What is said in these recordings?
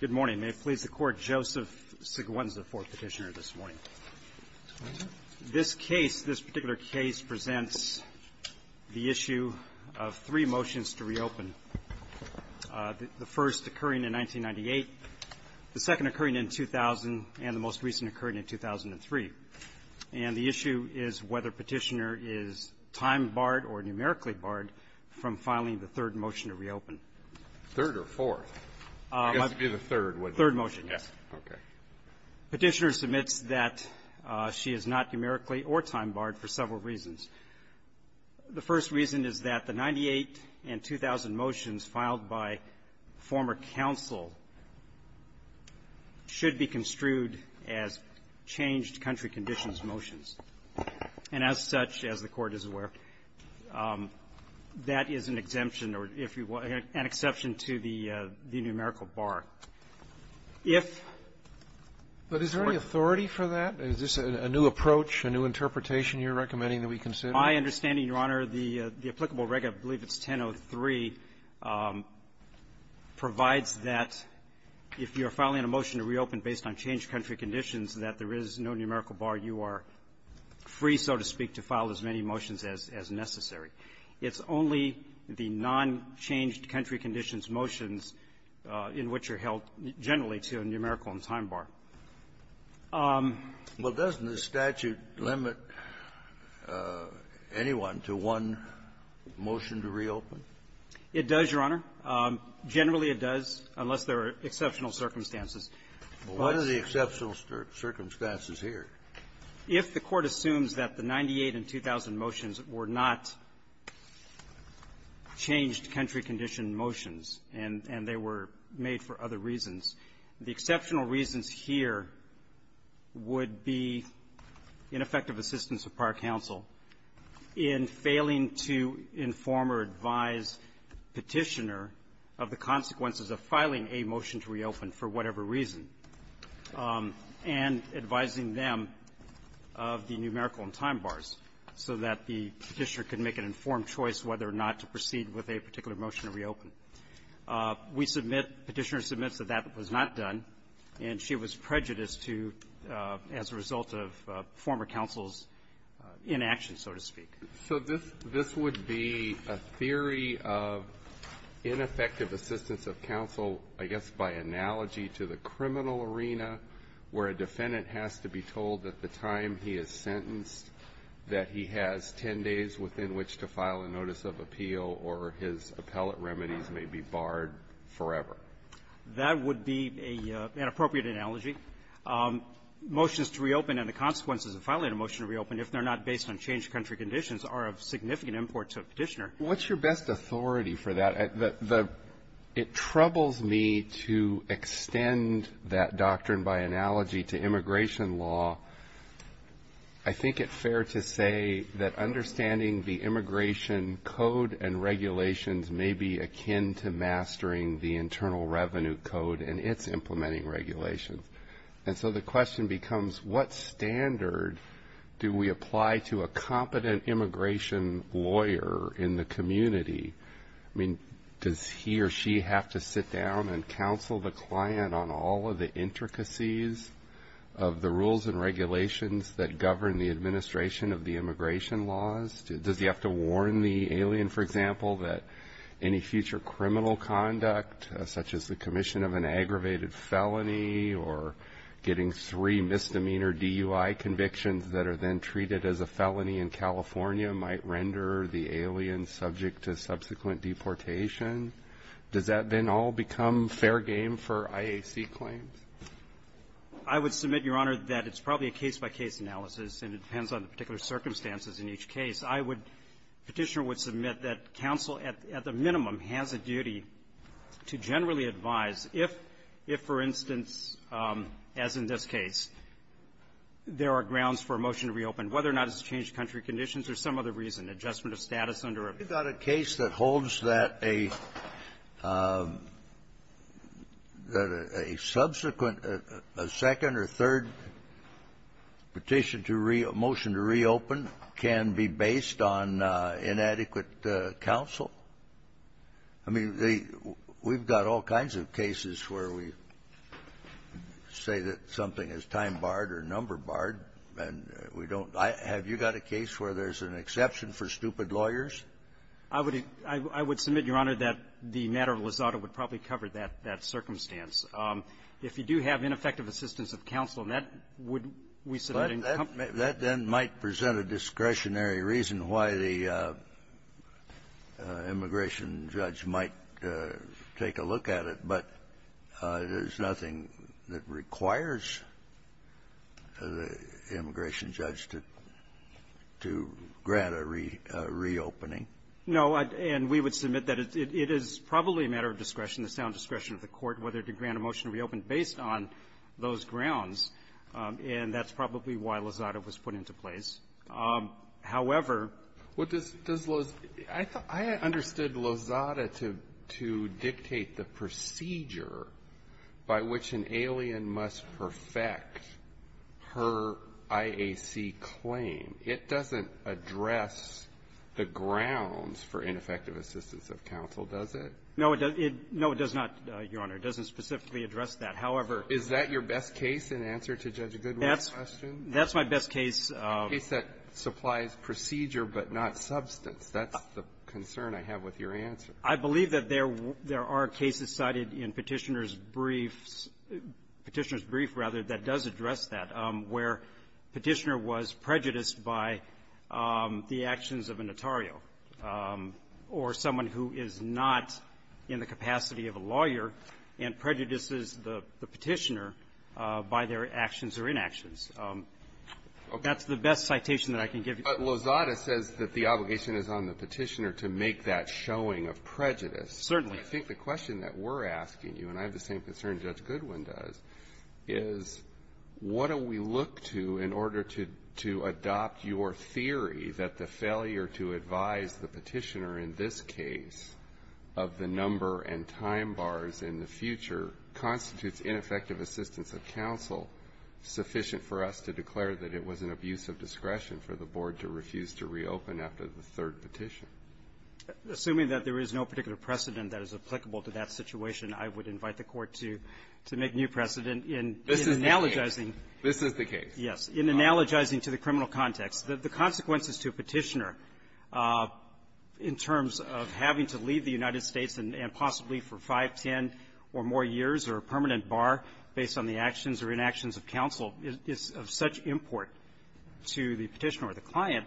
Good morning. May it please the Court, Joseph Sigouen is the fourth petitioner this morning. This case, this particular case presents the issue of three motions to reopen. The first occurring in 1998, the second occurring in 2000, and the most recent occurring in 2003. And the issue is whether petitioner is time barred or numerically barred from filing the third motion to reopen. The third or fourth? I guess it would be the third, wouldn't it? Third motion, yes. Okay. Petitioner submits that she is not numerically or time barred for several reasons. The first reason is that the 98 and 2000 motions filed by former counsel should be construed as changed country conditions motions. And as such, as the Court is aware, that is an exemption or, if you will, an exception to the numerical bar. If the Court But is there any authority for that? Is this a new approach, a new interpretation you're recommending that we consider? My understanding, Your Honor, the applicable reg. I believe it's 1003, provides that if you're filing a motion to reopen based on changed country conditions, that there is no numerical bar. You are free, so to speak, to file as many motions as necessary. It's only the nonchanged country conditions motions in which you're held, generally, to a numerical and time bar. Well, doesn't the statute limit anyone to one motion to reopen? It does, Your Honor. Generally, it does, unless there are exceptional circumstances. But what are the exceptional circumstances here? If the Court assumes that the 98 and 2000 motions were not changed country condition motions, and they were made for other reasons, the exceptional reasons here would be ineffective assistance of par counsel in failing to inform or advise Petitioner of the consequences of filing a motion to reopen for whatever reason, and advising them of the numerical and time bars so that the Petitioner could make an informed choice whether or not to proceed with a particular motion to reopen. We submit Petitioner submits that that was not done, and she was prejudiced to, as a result of former counsel's inaction, so to speak. So this would be a theory of ineffective assistance of counsel, I guess, by analogy to the criminal arena, where a defendant has to be told that the time he is sentenced, that he has 10 days within which to file a notice of appeal, or his appellate remedies may be barred forever. That would be an appropriate analogy. Motions to reopen and the consequences of filing a motion to reopen, if they're not based on changed country conditions, are of significant import to Petitioner. What's your best authority for that? It troubles me to extend that doctrine by analogy to immigration law. I think it fair to say that understanding the immigration code and regulations may be akin to mastering the Internal Revenue Code and its implementing regulations. And so the question becomes, what standard do we apply to a competent immigration lawyer in the community? I mean, does he or she have to sit down and counsel the client on all of the intricacies of the rules and regulations that govern the administration of the immigration laws? Does he have to warn the alien, for example, that any future criminal conduct, such as the commission of an aggravated felony, or getting three misdemeanor DUI convictions that are then treated as a felony in California might render the alien subject to subsequent deportation? Does that then all become fair game for IAC claims? I would submit, Your Honor, that it's probably a case-by-case analysis, and it depends on the particular circumstances in each case. I would – Petitioner would submit that counsel at the minimum has a duty to generally advise if, for instance, as in this case, there are grounds for a motion to reopen, whether or not it's to change country conditions or some other reason, adjustment of status under a period. Kennedy. We've got a case that holds that a – that a subsequent – a second or third petition to – motion to reopen can be based on inadequate counsel. I mean, the – we've got all kinds of cases where we say that something is time-barred or number-barred, and we don't – I – have you got a case where there's an exception for stupid lawyers? I would – I would submit, Your Honor, that the matter of Lozada would probably cover that – that circumstance. If you do have ineffective assistance of counsel, that would, we submit, encompass. That then might present a discretionary reason why the immigration judge might take a look at it, but there's nothing that requires the immigration judge to – to grant a reopening. No. And we would submit that it is probably a matter of discretion, the sound discretion of the court, whether to grant a motion to reopen based on those grounds, and that's probably why Lozada was put into place. However – What does – does Lozada – I understood Lozada to – to dictate the procedure by which an alien must perfect her IAC claim. It doesn't address the grounds for ineffective assistance of counsel, does it? No, it doesn't. No, it does not, Your Honor. It doesn't specifically address that. However – Is that your best case in answer to Judge Goodwin's question? That's my best case. A case that supplies procedure but not substance. That's the concern I have with your answer. I believe that there – there are cases cited in Petitioner's briefs – Petitioner's brief, rather, that does address that, where Petitioner was prejudiced by the actions of a notario or someone who is not in the capacity of a lawyer and prejudices the – the Petitioner by their actions or inactions. That's the best citation that I can give you. But Lozada says that the obligation is on the Petitioner to make that showing of prejudice. Certainly. I think the question that we're asking you, and I have the same concern Judge Goodwin does, is what do we look to in order to – to adopt your theory that the failure to advise the Petitioner in this case of the number and time bars in the future constitutes ineffective assistance of counsel sufficient for us to declare that it was an abuse of discretion for the Board to refuse to reopen after the third petition? Assuming that there is no particular precedent that is applicable to that situation, I would invite the Court to – to make new precedent in analogizing… This is the case. This is the case. Yes. In analogizing to the criminal context. The consequences to a Petitioner in terms of having to leave the United States and possibly for 5, 10 or more years or a permanent bar based on the actions or inactions of counsel is of such import to the Petitioner or the client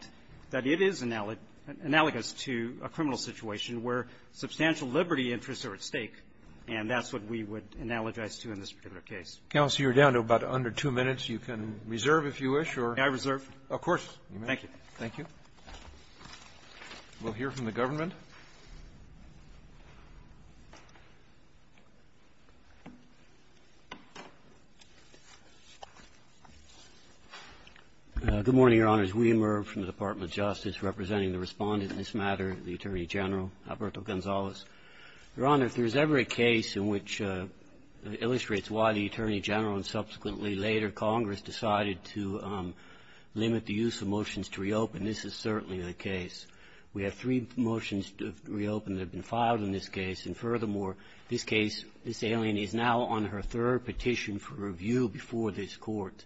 that it is analogous to a criminal situation where substantial liberty interests are at stake. And that's what we would analogize to in this particular case. Counsel, you're down to about under two minutes. You can reserve, if you wish, or… May I reserve? Of course. Thank you. Thank you. We'll hear from the government. Good morning, Your Honors. I'm James Wehmer from the Department of Justice, representing the Respondent in this matter, the Attorney General, Alberto Gonzalez. Your Honor, if there is ever a case in which illustrates why the Attorney General and subsequently later Congress decided to limit the use of motions to reopen, this is certainly the case. We have three motions reopened that have been filed in this case. And furthermore, this case, this alien is now on her third petition for review before this Court.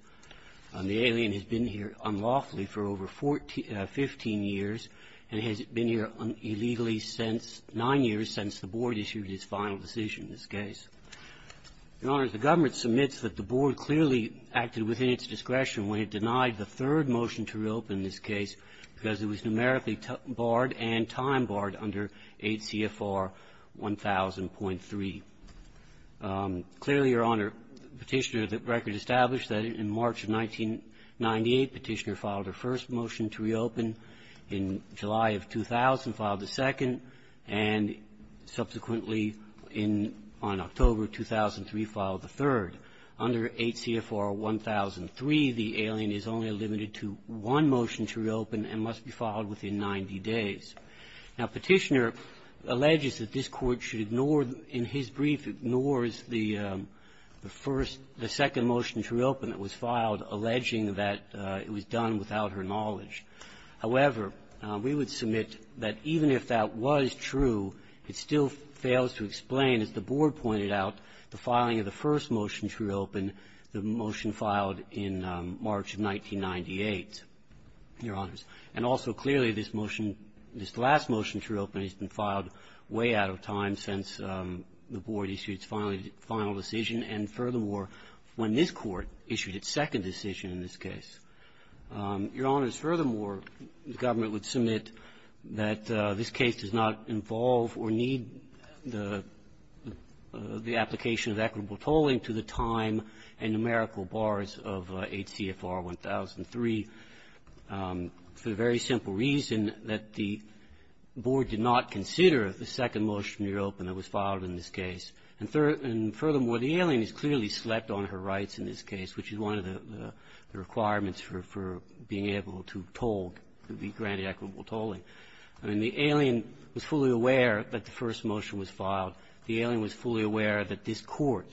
The alien has been here unlawfully for over 14 or 15 years and has been here illegally since – nine years since the Board issued its final decision in this case. Your Honors, the government submits that the Board clearly acted within its discretion when it denied the third motion to reopen this case because it was numerically barred and time-barred under 8 CFR 1000.3. Clearly, Your Honor, Petitioner, the record established that in March of 1998, Petitioner filed her first motion to reopen. In July of 2000, filed the second, and subsequently in – on October of 2003, filed the third. Under 8 CFR 1000.3, the alien is only limited to one motion to reopen and must be filed within 90 days. Now, Petitioner alleges that this Court should ignore – in his brief, ignores the first – the second motion to reopen that was filed, alleging that it was done without her knowledge. However, we would submit that even if that was true, it still fails to explain, as the Board pointed out, the filing of the first motion to reopen, the motion filed in March of 1998, Your Honors. And also, clearly, this motion – this last motion to reopen has been filed way out of time since the Board issued its final decision and, furthermore, when this Court issued its second decision in this case. Your Honors, furthermore, the government would submit that this case does not involve or need the application of equitable tolling to the time and numerical bars of 8 CFR 10003 for the very simple reason that the Board did not consider the second motion to reopen that was filed in this case. And furthermore, the alien has clearly slept on her rights in this case, which is one of the requirements for being able to toll, to be granted equitable tolling. I mean, the alien was fully aware that the first motion was filed. The alien was fully aware that this Court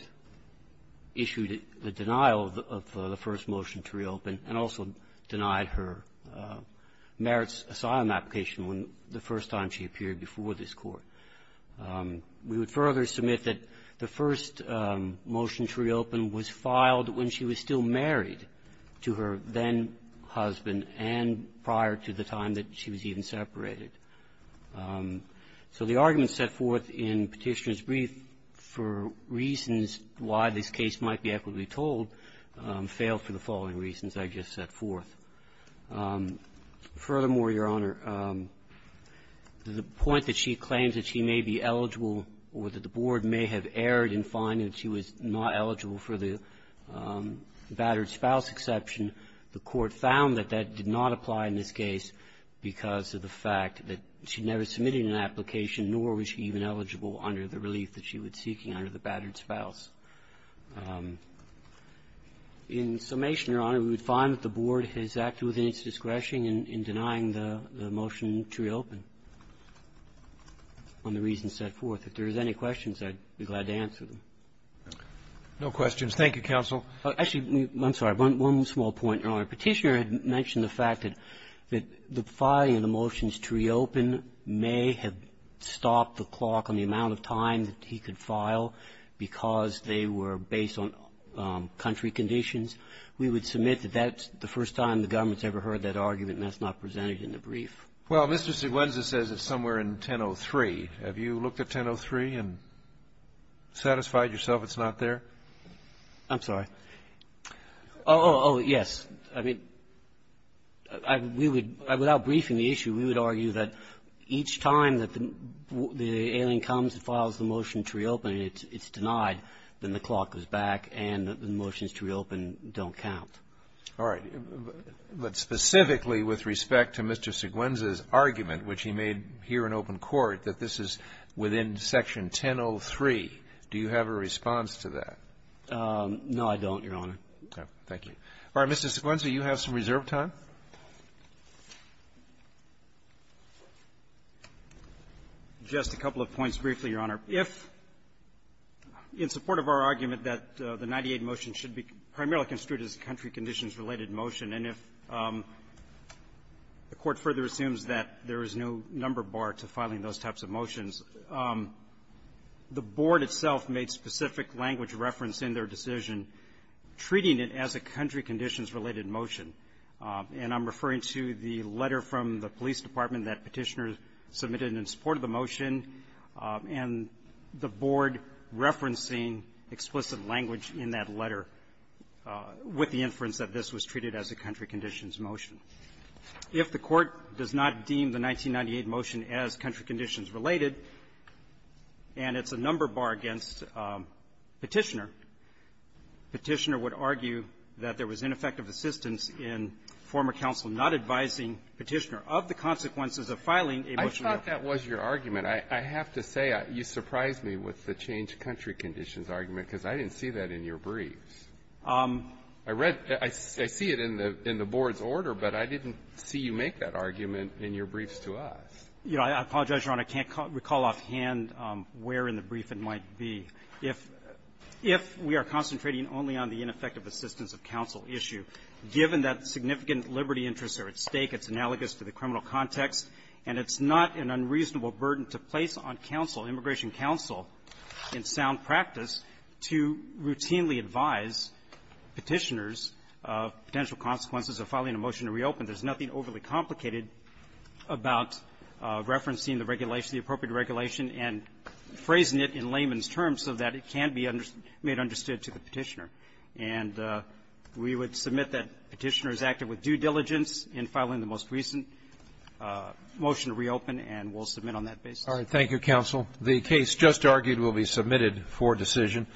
issued the denial of the first motion to reopen and also denied her merits asylum application when the first time she appeared before this Court. We would further submit that the first motion to reopen was filed when she was still married to her then-husband and prior to the time that she was even separated. So the argument set forth in Petitioner's brief for reasons why this case might be equitably tolled failed for the following reasons I just set forth. Furthermore, Your Honor, the point that she claims that she may be eligible or that the Board may have erred in finding that she was not eligible for the battered spouse exception, the Court found that that did not apply in this case because of the fact that she never submitted an application, nor was she even eligible under the relief that she was seeking under the battered spouse. In summation, Your Honor, we would find that the Board has acted within its discretion in denying the motion to reopen on the reasons set forth. If there is any questions, I'd be glad to answer them. No questions. Thank you, counsel. Actually, I'm sorry. One small point, Your Honor. Petitioner had mentioned the fact that the filing of the motions to reopen may have stopped the clock on the amount of time that he could file because they were based on country conditions. We would submit that that's the first time the government's ever heard that argument, and that's not presented in the brief. Well, Mr. Siguenza says it's somewhere in 1003. Have you looked at 1003 and satisfied yourself it's not there? I'm sorry. Oh, yes. I mean, we would – without briefing the issue, we would argue that each time that the alien comes and files the motion to reopen, it's denied, then the clock goes back and the motions to reopen don't count. All right. But specifically with respect to Mr. Siguenza's argument, which he made here in open court, that this is within Section 1003, do you have a response to that? No, I don't, Your Honor. Okay. Thank you. All right. Mr. Siguenza, you have some reserve time. Just a couple of points briefly, Your Honor. If, in support of our argument that the 98 motion should be primarily construed as a country conditions-related motion, and if the Court further assumes that there is no number bar to filing those types of motions, the board itself made specific language reference in their decision, treating it as a country conditions-related motion. And I'm referring to the letter from the police department that Petitioner submitted in support of the motion and the board referencing explicit language in that letter with the inference that this was treated as a country conditions motion. If the Court does not deem the 1998 motion as country conditions-related and it's a number bar against Petitioner, Petitioner would argue that there was ineffective assistance in former counsel not advising Petitioner of the consequences of filing a motion. I thought that was your argument. I have to say, you surprised me with the change country conditions argument because I didn't see that in your briefs. I read the --I see it in the board's order, but I didn't see you make that argument in your briefs to us. You know, I apologize, Your Honor. I can't recall offhand where in the brief it might be. If we are concentrating only on the ineffective assistance of counsel issue, given that significant liberty interests are at stake, it's analogous to the criminal context, and it's not an unreasonable burden to place on counsel, immigration counsel, in sound practice, to routinely advise Petitioners of potential consequences of filing a motion to reopen, there's nothing overly complicated about the fact that we are referencing the regulation, the appropriate regulation, and phrasing it in layman's terms so that it can be made understood to the Petitioner. And we would submit that Petitioner is active with due diligence in filing the most recent motion to reopen, and we'll submit on that basis. Roberts. Thank you, counsel. The case just argued will be submitted for decision.